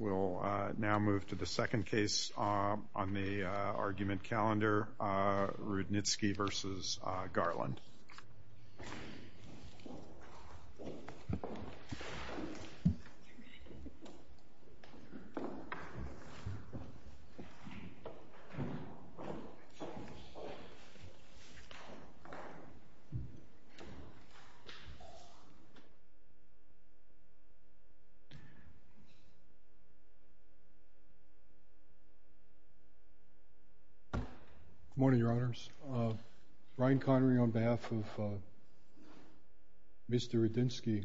We'll now move to the second case on the argument calendar, Rudnitsky v. Garland. Good morning, Your Honors. Brian Connery on behalf of Mr. Rudnitskyy.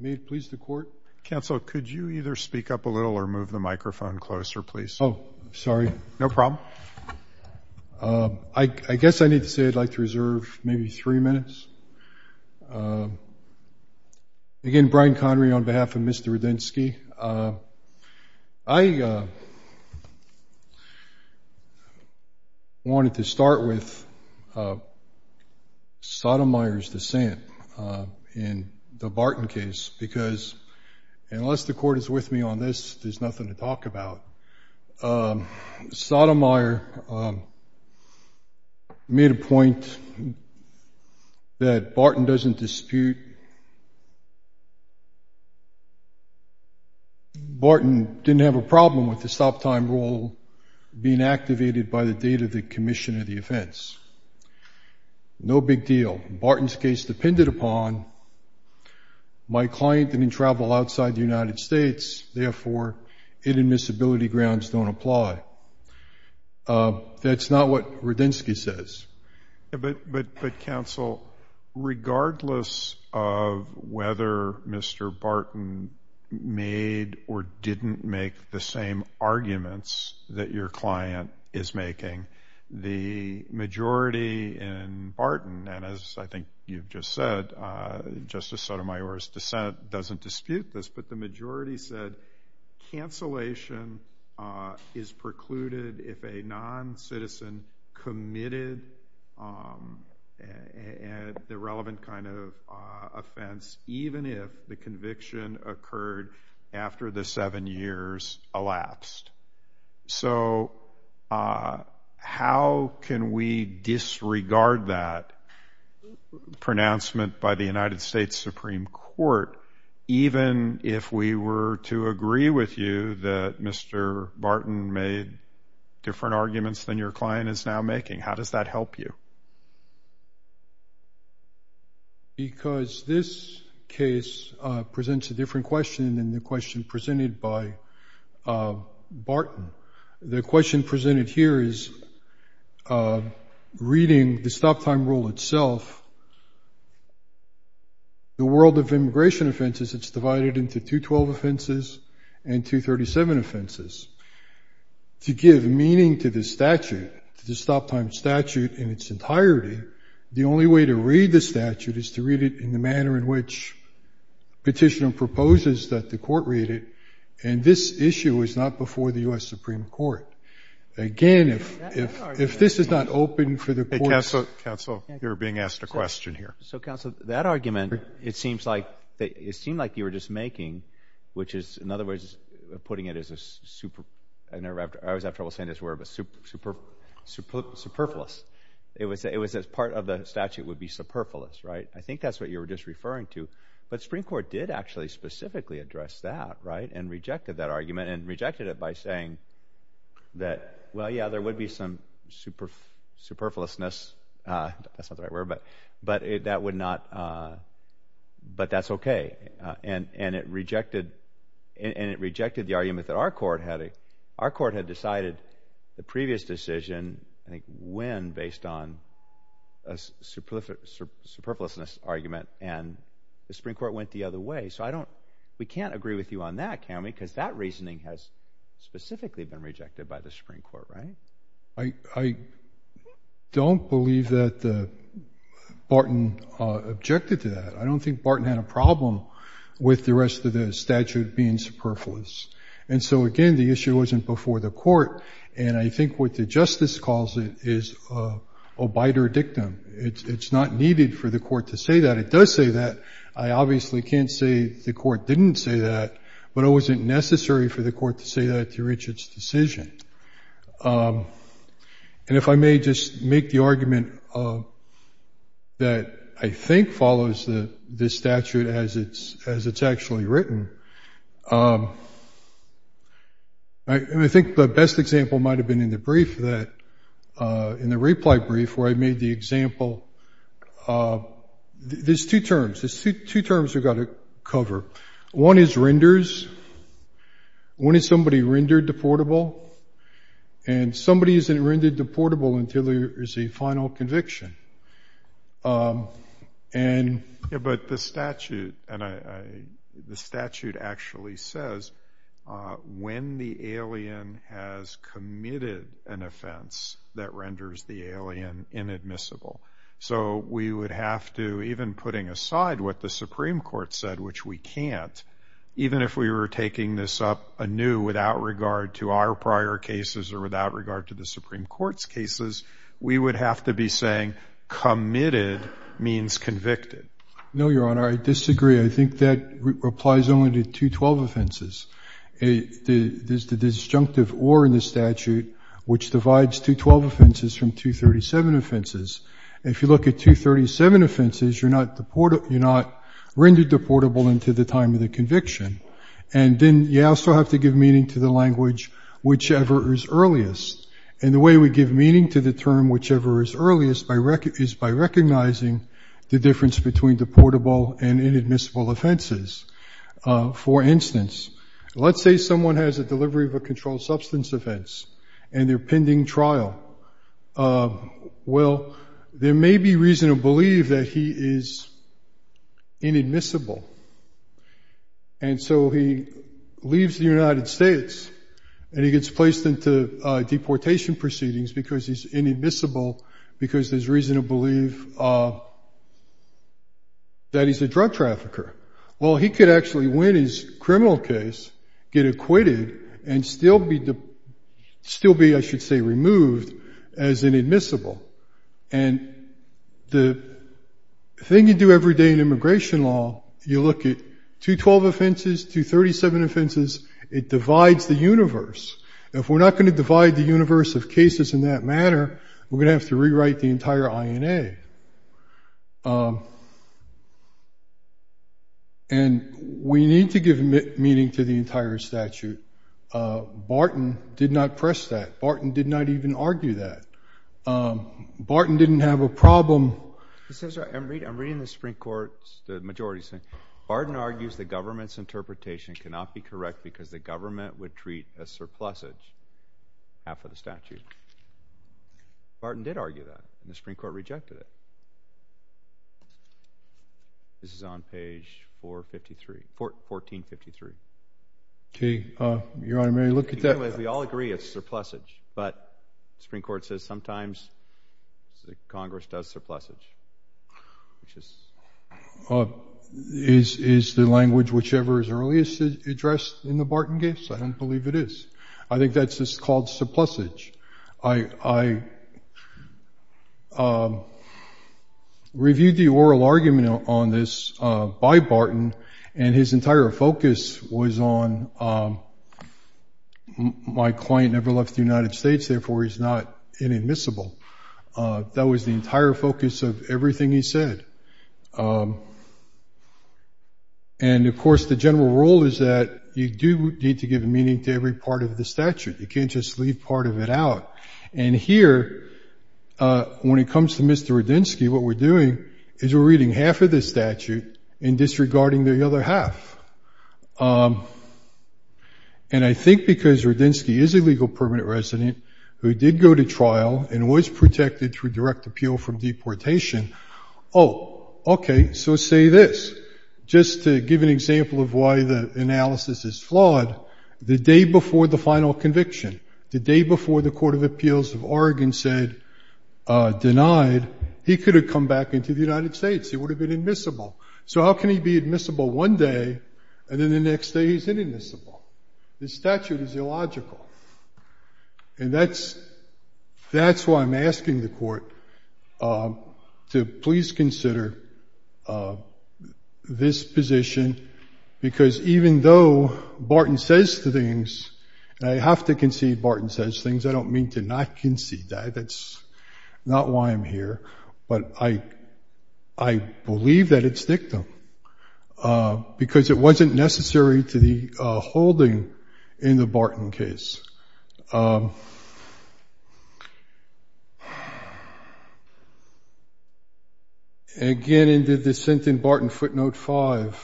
May it please the Court? Counsel, could you either speak up a little or move the microphone closer, please? Oh, sorry. No problem. I guess I need to say I'd like to reserve maybe three minutes. Again, Brian Connery on behalf of Mr. Rudnitskyy. I wanted to start with Sotomayor's dissent in the Barton case, because unless the Court is with me on this, there's nothing to talk about. Barton didn't have a problem with the stop time rule being activated by the date of the commission of the offense. No big deal. Barton's case depended upon my client didn't travel outside the United States, therefore inadmissibility grounds don't apply. That's not what Rudnitskyy says. But, Counsel, regardless of whether Mr. Barton made or didn't make the same arguments that your client is making, the majority in Barton, and as I think you've just said, Justice Sotomayor's dissent doesn't dispute this, but the majority said cancellation is precluded if a non-citizen committed the relevant kind of offense, even if the conviction occurred after the seven years elapsed. So, how can we disregard that pronouncement by the United States Supreme Court, even if we were to agree with you that Mr. Barton made different arguments than your client is now making? How does that help you? Because this case presents a different question than the question presented by Barton. The world of immigration offenses, it's divided into 212 offenses and 237 offenses. To give meaning to the statute, to the stop-time statute in its entirety, the only way to read the statute is to read it in the manner in which Petitioner proposes that the Court read it, and this issue is not before the U.S. Supreme Court. Again, if this is not open for the Court's... So, that argument, it seemed like you were just making, which is, in other words, putting it as a super... I always have trouble saying this word, but superfluous. It was that part of the statute would be superfluous, right? I think that's what you were just referring to, but the Supreme Court did actually specifically address that, right, and rejected that argument and rejected it by saying that, well, yeah, there would be some superfluousness, that's not... But that's okay, and it rejected the argument that our Court had decided the previous decision, I think, when, based on a superfluousness argument, and the Supreme Court went the other way. So, I don't... We can't agree with you on that, can we, because that reasoning has specifically been rejected by the Supreme Court, right? I don't believe that Barton objected to that. I don't think Barton had a problem with the rest of the statute being superfluous. And so, again, the issue wasn't before the Court, and I think what the Justice calls it is an obiter dictum. It's not needed for the Court to say that. It does say that. I obviously can't say the Court didn't say that, but it wasn't necessary for the Court to say that to reach its decision. And if I may just make the argument that I think follows this statute as it's actually written, I think the best example might have been in the brief that... In the reply brief where I made the example... There's two terms. There's two terms we've got to cover. One is renders. When is somebody rendered deportable? And somebody isn't rendered deportable until there is a final conviction. And... Yeah, but the statute actually says when the alien has committed an offense, that renders the alien inadmissible. So we would have to, even putting aside what the Supreme Court said, which we can't, even if we were taking this up anew without regard to our prior cases or without regard to the Supreme Court's cases, we would have to be saying committed means convicted. No, Your Honor. I disagree. I think that applies only to 212 offenses. There's the disjunctive or in the statute which divides 212 offenses from 237 offenses. If you look at 237 offenses, you're not rendered deportable until the time of the conviction. And then you also have to give meaning to the language, whichever is earliest. And the way we give meaning to the term whichever is earliest is by recognizing the difference between deportable and inadmissible offenses. For instance, let's say someone has a delivery of a controlled substance offense and they're pending trial. Well, there may be reason to believe that he is inadmissible. And so he leaves the United States and he gets placed into deportation proceedings because he's going to believe that he's a drug trafficker. Well, he could actually win his criminal case, get acquitted, and still be, I should say, removed as inadmissible. And the thing you do every day in immigration law, you look at 212 offenses, 237 offenses, it divides the universe. If we're not going to divide the universe of cases in that manner, we're going to have to rewrite the entire INA. And we need to give meaning to the entire statute. Barton did not press that. Barton did not even argue that. Barton didn't have a problem. I'm reading the Supreme Court, the majority is saying, Barton argues the government's interpretation cannot be correct because the government would treat a surplus as half of the statute. Barton did argue that and the Supreme Court rejected it. This is on page 453, 1453. Okay, Your Honor, may I look at that? We all agree it's surplusage, but the Supreme Court says sometimes Congress does surplusage, which is... Is the language whichever is earliest addressed in the Barton case? I don't believe it is. I think that's just called surplusage. I reviewed the oral argument on this by Barton and his entire focus was on my client never left the United States, therefore he's not inadmissible. That was the entire focus of everything he said. And of course, the general rule is that you do need to give meaning to every part of the statute. You can't just leave part of it out. And here, when it comes to Mr. Radinsky, what we're doing is we're reading half of the statute and disregarding the other half. And I think because Radinsky is a legal permanent resident who did go to trial and was protected through direct appeal from deportation, oh, okay, so say this. Just to give an example of why the analysis is flawed, the day before the final conviction, the day before the Court of Appeals of Oregon said denied, he could have come back into the United States. He would have been admissible. So how can he be admissible one day and then the next day he's inadmissible? The statute is illogical. And that's why I'm asking the Court to please consider this position, because even though Barton says things, and I have to concede Barton says things, I don't mean to not concede that. That's not why I'm here. But I believe that it's dictum, because it wasn't necessary to the holding in the Barton case. Again, in the dissent in Barton footnote five,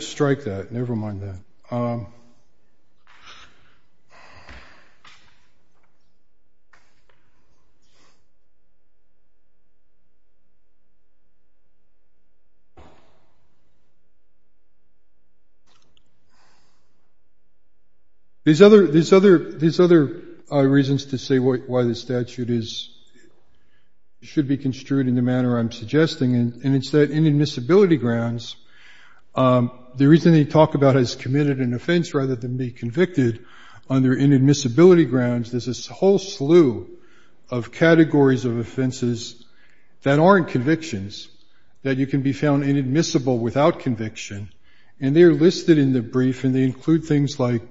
strike that, never mind that. These other reasons to say why the statute should be construed in the manner I'm suggesting, and it's that inadmissibility grounds, the reason they talk about as committed an offense rather than be convicted under inadmissibility grounds, there's this whole slew of categories of offenses that aren't convictions, that you can be found inadmissible without conviction. And they're listed in the brief, and they include things like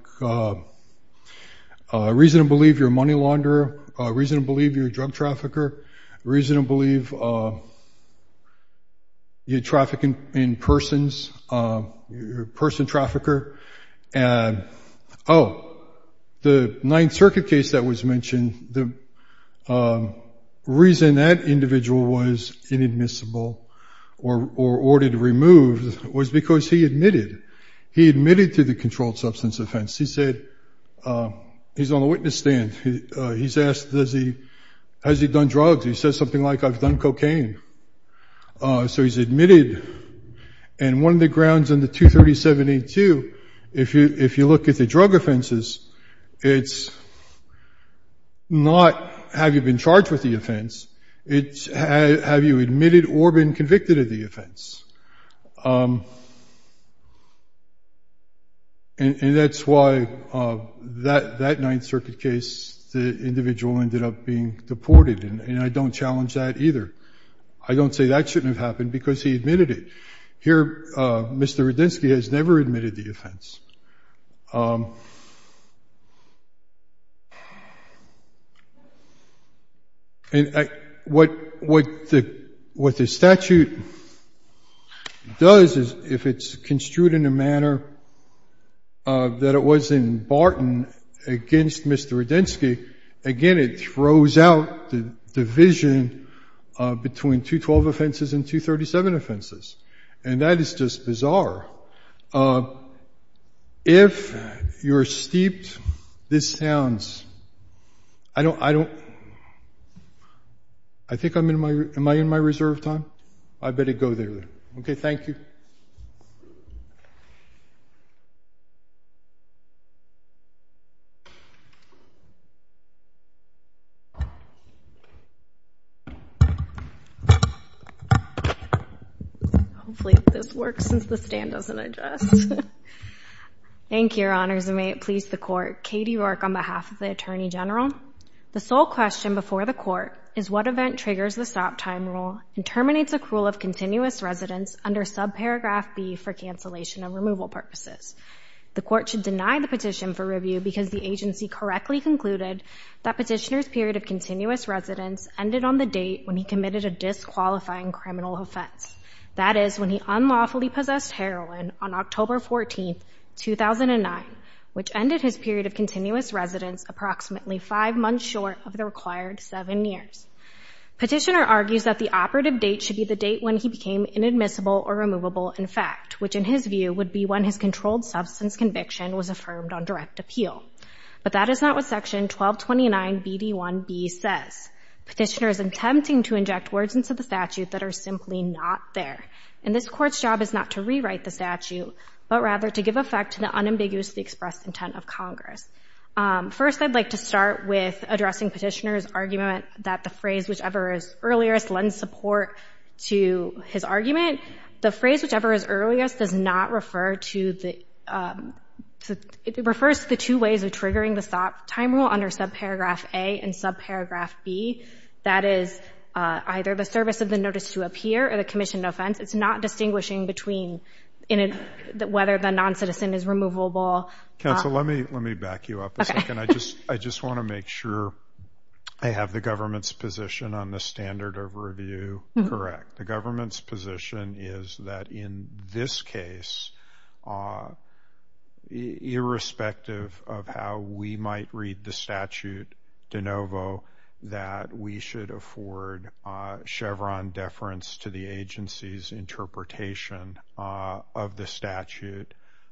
reason to believe you're a money launderer, reason to believe you're a drug trafficker, reason to believe you're a person trafficker. Oh, the Ninth Circuit case that was mentioned, the reason that individual was inadmissible or ordered removed was because he admitted, he admitted to the controlled substance offense. He said, he's on the witness stand, he's asked, has he done drugs? He says something like, I've done cocaine. So he's admitted, and one of the grounds in the 237-82, if you look at the case, it's not have you been charged with the offense, it's have you admitted or been convicted of the offense. And that's why that Ninth Circuit case, the individual ended up being deported, and I don't challenge that either. I don't say that shouldn't have happened because he admitted it. Here, Mr. Radinsky has never admitted the offense. And what the statute does is, if it's construed in a manner that it was in Barton against Mr. Radinsky, again, it throws out the division between 212 offenses and 237 offenses. And that is just bizarre. If you're steeped, this sounds, I don't, I think I'm in my, am I in my reserve time? I better go there then. Okay, thank you. Thank you. Hopefully this works since the stand doesn't adjust. Thank you. Thank you. Thank you. Thank you. Thank you. Thank you. So our position is that Barton, yes, it did address the overall operation of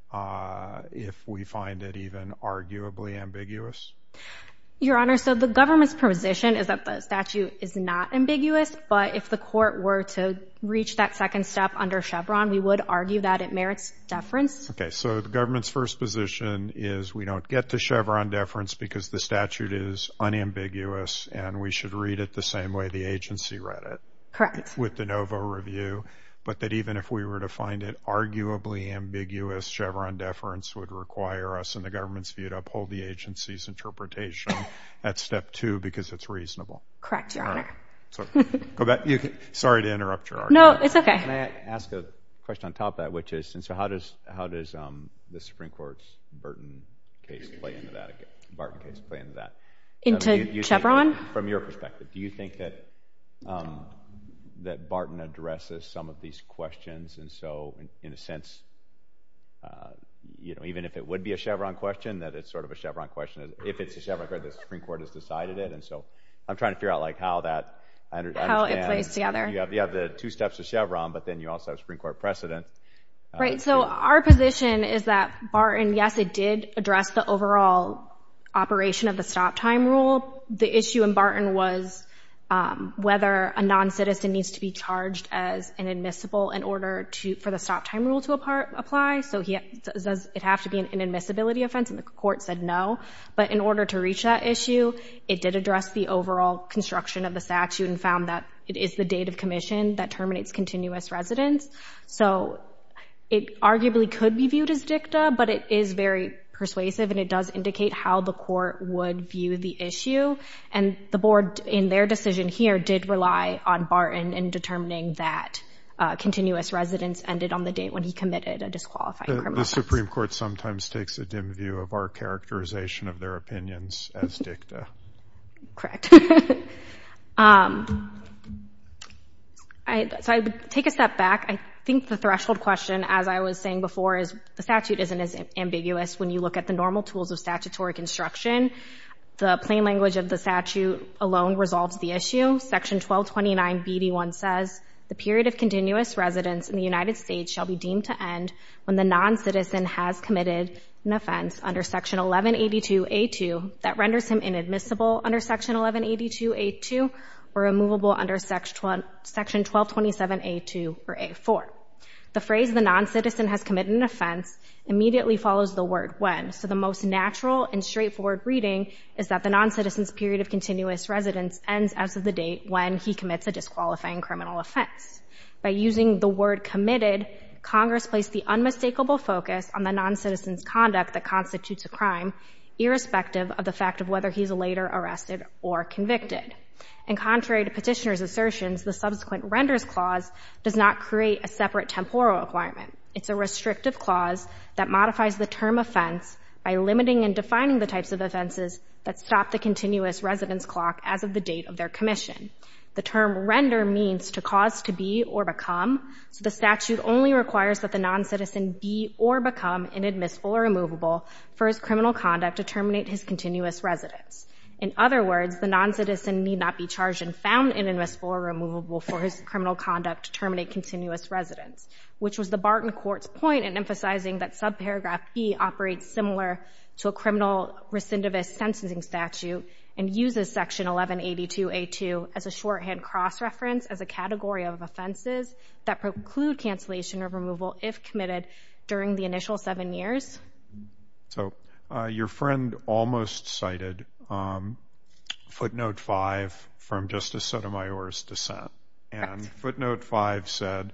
the stop time rule. The issue in Barton was whether a non-citizen needs to be charged as inadmissible in order for the stop time rule to apply. So it has to be an inadmissibility offense, and the court said no. But in order to reach that issue, it did address the overall construction of the statute and found that it is the executive commission that terminates continuous residence. So it arguably could be viewed as dicta, but it is very persuasive, and it does indicate how the court would view the issue. And the board, in their decision here, did rely on Barton in determining that continuous residence ended on the date when he committed a disqualified criminal offense. The Supreme Court sometimes takes a dim view of our characterization of their opinions as dicta. Correct. So I would take a step back. I think the threshold question, as I was saying before, is the statute isn't as ambiguous when you look at the normal tools of statutory construction. The plain language of the statute alone resolves the issue. Section 1229BD1 says, the period of continuous residence in the United States shall be deemed to end when the non-citizen has committed an offense under Section 1182A2 that renders him inadmissible under Section 1182A2 or removable under Section 1227A2 or A4. The phrase, the non-citizen has committed an offense, immediately follows the word when. So the most natural and straightforward reading is that the non-citizen's period of continuous residence ends as of the date when he commits a disqualifying criminal offense. By using the word committed, Congress placed the unmistakable focus on the non-citizen's conduct that constitutes a crime, irrespective of the fact of whether he's later arrested or convicted. And contrary to petitioner's assertions, the subsequent renders clause does not create a separate temporal requirement. It's a restrictive clause that modifies the term offense by limiting and defining the types of offenses that stop the continuous residence clock as of the date of their commission. The term render means to cause to be or become, so the statute only requires that the non-citizen be or become inadmissible or removable for his criminal conduct to terminate his continuous residence. In other words, the non-citizen need not be charged and found inadmissible or removable for his criminal conduct to terminate continuous residence, which was the Barton Court's point in emphasizing that subparagraph B operates similar to a criminal recidivist sentencing statute and uses Section 1182A2 as a shorthand cross-reference as a category of offenses that preclude cancellation or removal if committed during the initial seven years. So, your friend almost cited footnote 5 from Justice Sotomayor's dissent. And footnote 5 said,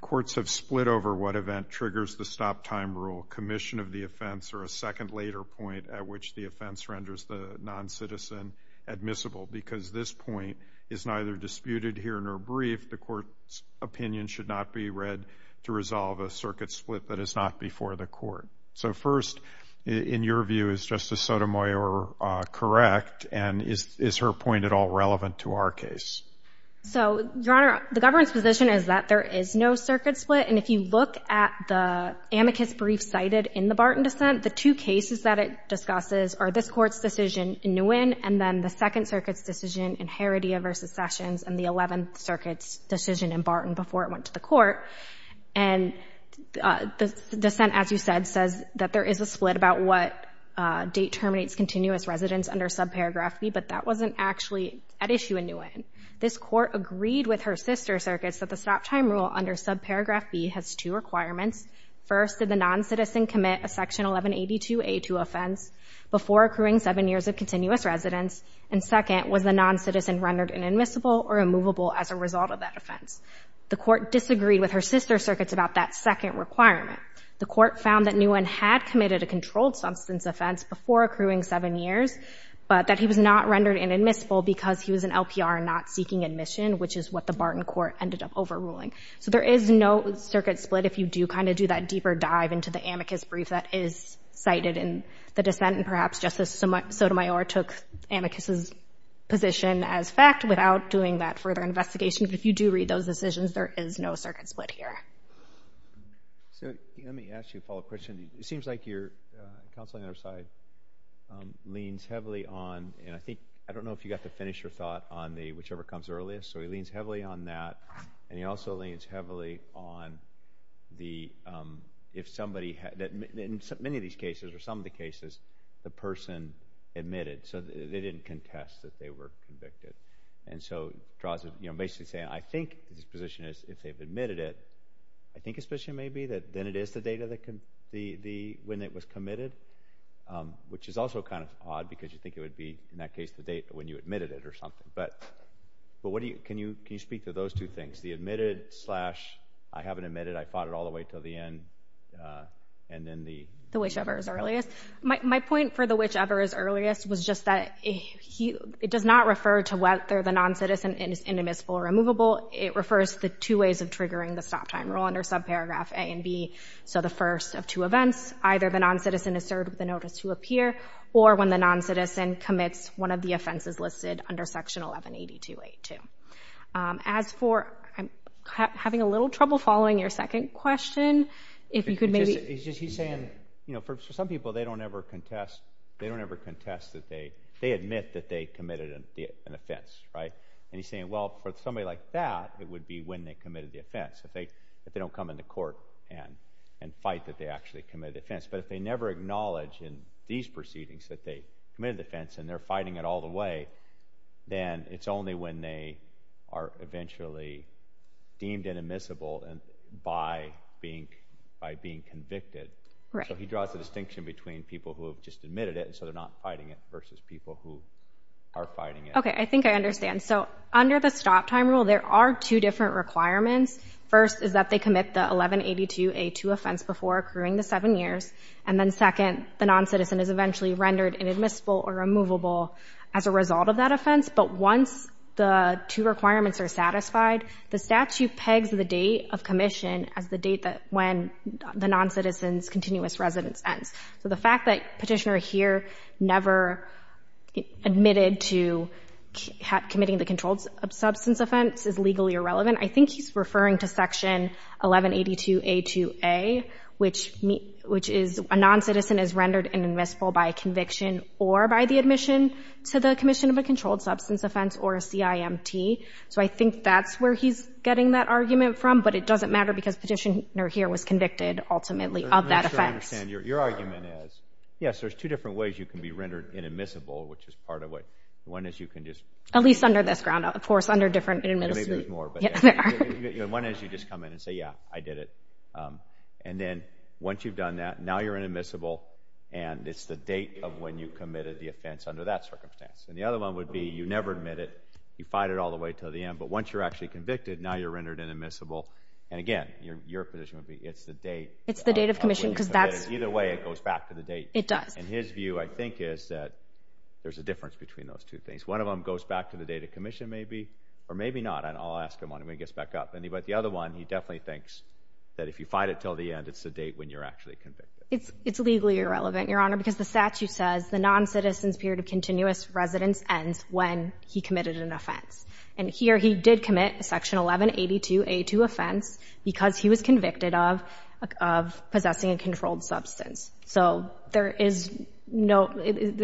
courts have split over what event triggers the stop-time rule, commission of the offense, or a second later point at which the offense renders the non-citizen admissible, because this point is neither disputed here nor briefed. The court's opinion should not be read to resolve a circuit split that is not before the court. So, first, in your view, is Justice Sotomayor correct, and is her point at all relevant to our case? So, Your Honor, the government's position is that there is no circuit split, and if you look at the amicus brief cited in the Barton dissent, the two cases that it discusses are this Court's decision in Nguyen, and then the Second Circuit's decision in Heredia v. Sessions, and the Eleventh Circuit's decision in Barton before it went to the court. And the dissent, as you said, says that there is a split about what date terminates continuous residence under subparagraph B, but that wasn't actually at issue in Nguyen. This Court agreed with Her Sister Circuits that the stop-time rule under subparagraph B has two requirements. First, did the non-citizen commit a Section 1182A2 offense before accruing seven years of continuous residence? And second, was the non-citizen rendered inadmissible or immovable as a result of that offense? The Court disagreed with Her Sister Circuits about that second requirement. The Court found that Nguyen had committed a controlled substance offense before accruing seven years, but that he was not rendered inadmissible because he was an LPR not seeking admission, which is what the Barton Court ended up overruling. So there is no circuit split if you do kind of do that deeper dive into the amicus brief that is cited in the dissent, and perhaps Justice Sotomayor took amicus's position as fact without doing that further investigation. But if you do read those decisions, there is no circuit split here. Let me ask you a follow-up question. It seems like your counsel on the other side leans heavily on, and I think, I don't know if you got to finish your thought on the whichever comes earliest, so he leans heavily on that, and he also leans heavily on the, if somebody, in many of these cases, or some of the cases, the person admitted, so they didn't contest that they were convicted. And so, basically saying, I think his position is, if they've admitted it, I think his position may be that then it is the date when it was committed, which is also kind of odd because you think it would be, in that case, the date when you admitted it or something. But can you speak to those two things, the admitted slash, I haven't admitted, I fought it all the way until the end, and then the... The whichever is earliest. My point for the whichever is earliest was just that it does not refer to whether the non-citizen is inadmissible or immovable, it refers to the two ways of triggering the stop time rule under subparagraph A and B, so the first of two events, either the non-citizen is served with a notice to appear, or when the non-citizen commits one of the offenses listed under section 1182. As for having a little trouble following your second question, if you could maybe... He's saying, for some people, they don't ever contest that they... They admit that they committed an offense, right? And he's saying, well, for somebody like that, it would be when they committed the offense. If they don't come into court and fight that they actually committed the offense. But if they never acknowledge in these proceedings that they committed the offense and they're fighting it all the way, then it's only when they are eventually deemed inadmissible by being convicted. So he draws a distinction between people who have just admitted it, so they're not fighting it, versus people who are fighting it. Okay, I think I understand. So under the stop time rule, there are two different requirements. First is that they commit the 1182A2 offense before accruing the seven years. And then second, the non-citizen is eventually rendered inadmissible or immovable as a result of that offense. But once the two requirements are satisfied, the statute pegs the date of commission as the date when the non-citizen's continuous residence ends. So the fact that Petitioner here never admitted to committing the controlled substance offense is legally irrelevant. I think he's referring to Section 1182A2A, which is a non-citizen is rendered inadmissible by conviction or by the admission to the commission of a controlled substance offense or a CIMT. So I think that's where he's getting that argument from. But it doesn't matter because Petitioner here was convicted ultimately of that offense. I'm not sure I understand. Your argument is, yes, there's two different ways you can be rendered inadmissible, which is part of what— At least under this ground. Of course, under different— One is you just come in and say, yeah, I did it. And then once you've done that, now you're inadmissible, and it's the date of when you committed the offense under that circumstance. And the other one would be you never admit it, you fight it all the way to the end, but once you're actually convicted, now you're rendered inadmissible. And again, your position would be it's the date— It's the date of commission because that's— Either way, it goes back to the date. It does. And his view, I think, is that there's a difference between those two things. One of them goes back to the date of commission, maybe, or maybe not. I'll ask him when he gets back up. But the other one, he definitely thinks that if you fight it till the end, it's the date when you're actually convicted. It's legally irrelevant, Your Honor, because the statute says the non-citizen's period of continuous residence ends when he committed an offense. And here he did commit Section 1182A2 offense because he was convicted of possessing a controlled substance. So there is no—it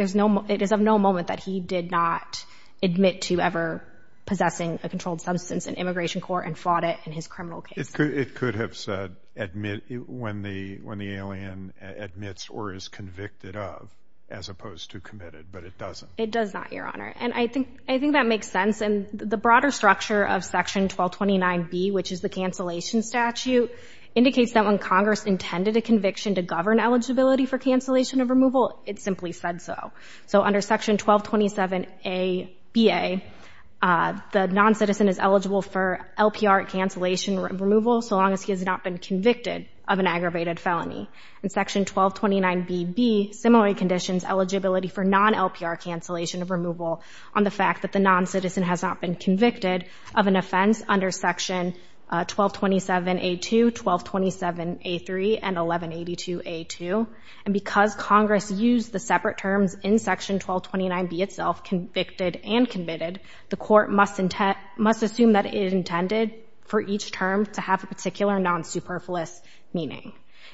is of no moment that he did not admit to ever possessing a controlled substance in immigration court and fought it in his criminal case. It could have said admit when the alien admits or is convicted of as opposed to committed, but it doesn't. It does not, Your Honor. And I think that makes sense. And the broader structure of Section 1229B, which is the cancellation statute, indicates that when Congress intended a conviction to govern eligibility for cancellation of removal, it simply said so. So under Section 1227ABA, the non-citizen is eligible for LPR cancellation removal so long as he has not been convicted of an aggravated felony. And Section 1229BB similarly conditions eligibility for non-LPR cancellation of removal so long as he has not been convicted of an offense under Section 1227A2, 1227A3, and 1182A2. And because Congress used the separate terms in Section 1229B itself, convicted and committed, the court must assume that it intended for each term to have a particular non-superfluous meaning.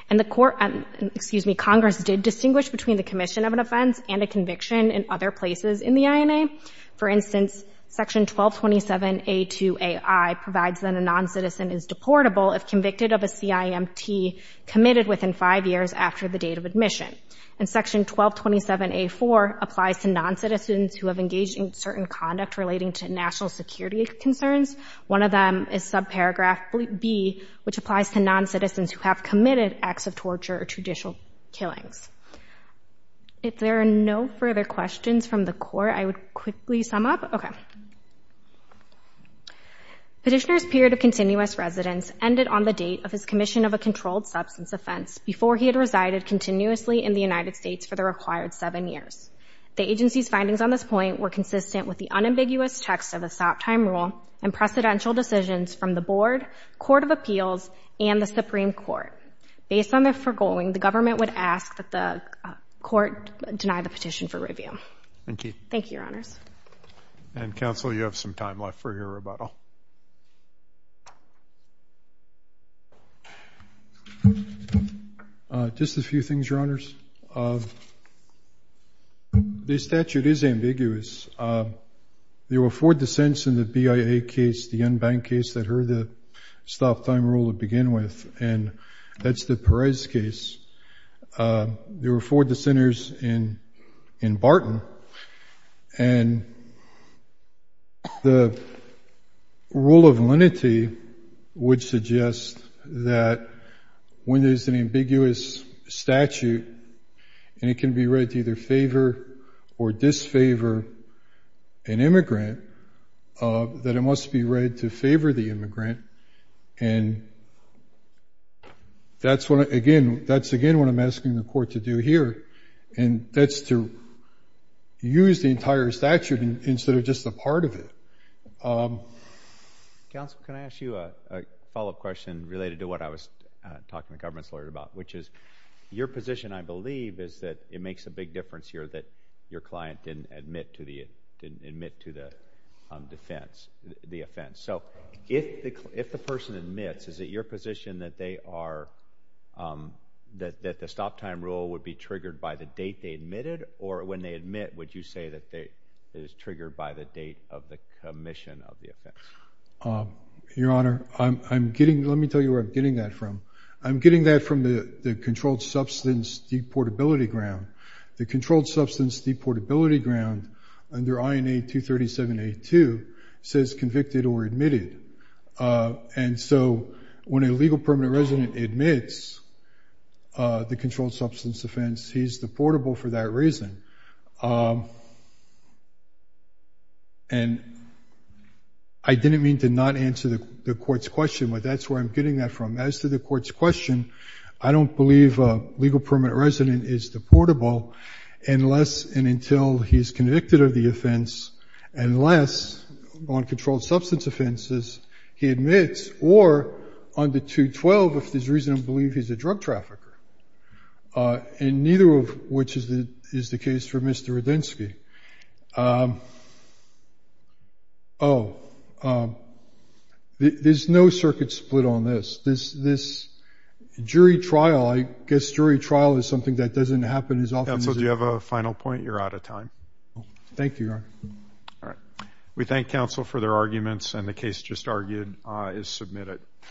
And the court—excuse me, Congress did distinguish between the commission of an offense and a conviction in other places in the case. Section 1227A2AI provides that a non-citizen is deportable if convicted of a CIMT committed within five years after the date of admission. And Section 1227A4 applies to non-citizens who have engaged in certain conduct relating to national security concerns. One of them is subparagraph B, which applies to non-citizens who have committed acts of torture or judicial killings. If there are no further questions from the Court, I would quickly sum up. Okay. Petitioner's period of continuous residence ended on the date of his commission of a controlled substance offense before he had resided continuously in the United States for the required seven years. The agency's findings on this point were consistent with the unambiguous text of the Soptime Rule and precedential decisions from the Board, Court of Appeals, and the Supreme Court. Based on the foregoing, the government would ask that the Court deny the petition for rebuttal. And Counsel, you have some time left for your rebuttal. Just a few things, Your Honors. The statute is ambiguous. There were four dissents in the BIA case, the unbanked case that heard the Soptime Rule to begin with, and that's the Perez case. There were four dissenters in the rule of lenity, which suggests that when there's an ambiguous statute, and it can be read to either favor or disfavor an immigrant, that it must be read to favor the immigrant, and that's what, again, that's again what I'm asking the Court to do here, and that's to use the entire statute instead of just a part of it. Counsel, can I ask you a follow-up question related to what I was talking to the government's lawyer about, which is your position, I believe, is that it makes a big difference here that your client didn't admit to the offense. So if the person admits, is it your position that they are that the Soptime Rule would be triggered by the date they admitted, or when they admit, would you say that it is triggered by the date of the commission of the offense? Your Honor, let me tell you where I'm getting that from. I'm getting that from the Controlled Substance Deportability Ground. The Controlled Substance Deportability Ground under INA 237A2 says convicted or admitted, and so when a legal permanent resident admits the he's a drug trafficker for that reason. And I didn't mean to not answer the Court's question, but that's where I'm getting that from. As to the Court's question, I don't believe a legal permanent resident is deportable unless and until he's convicted of the offense, unless on controlled substance offenses he admits, or under 212, if there's reason to believe he's a drug trafficker. And neither of which is the case for Mr. Radinsky. Oh, there's no circuit split on this. This jury trial, I guess jury trial is something that doesn't happen as often as... Counsel, do you have a final point? You're out of time. Thank you, Your Honor. We thank counsel for their arguments, and the case just argued is submitted.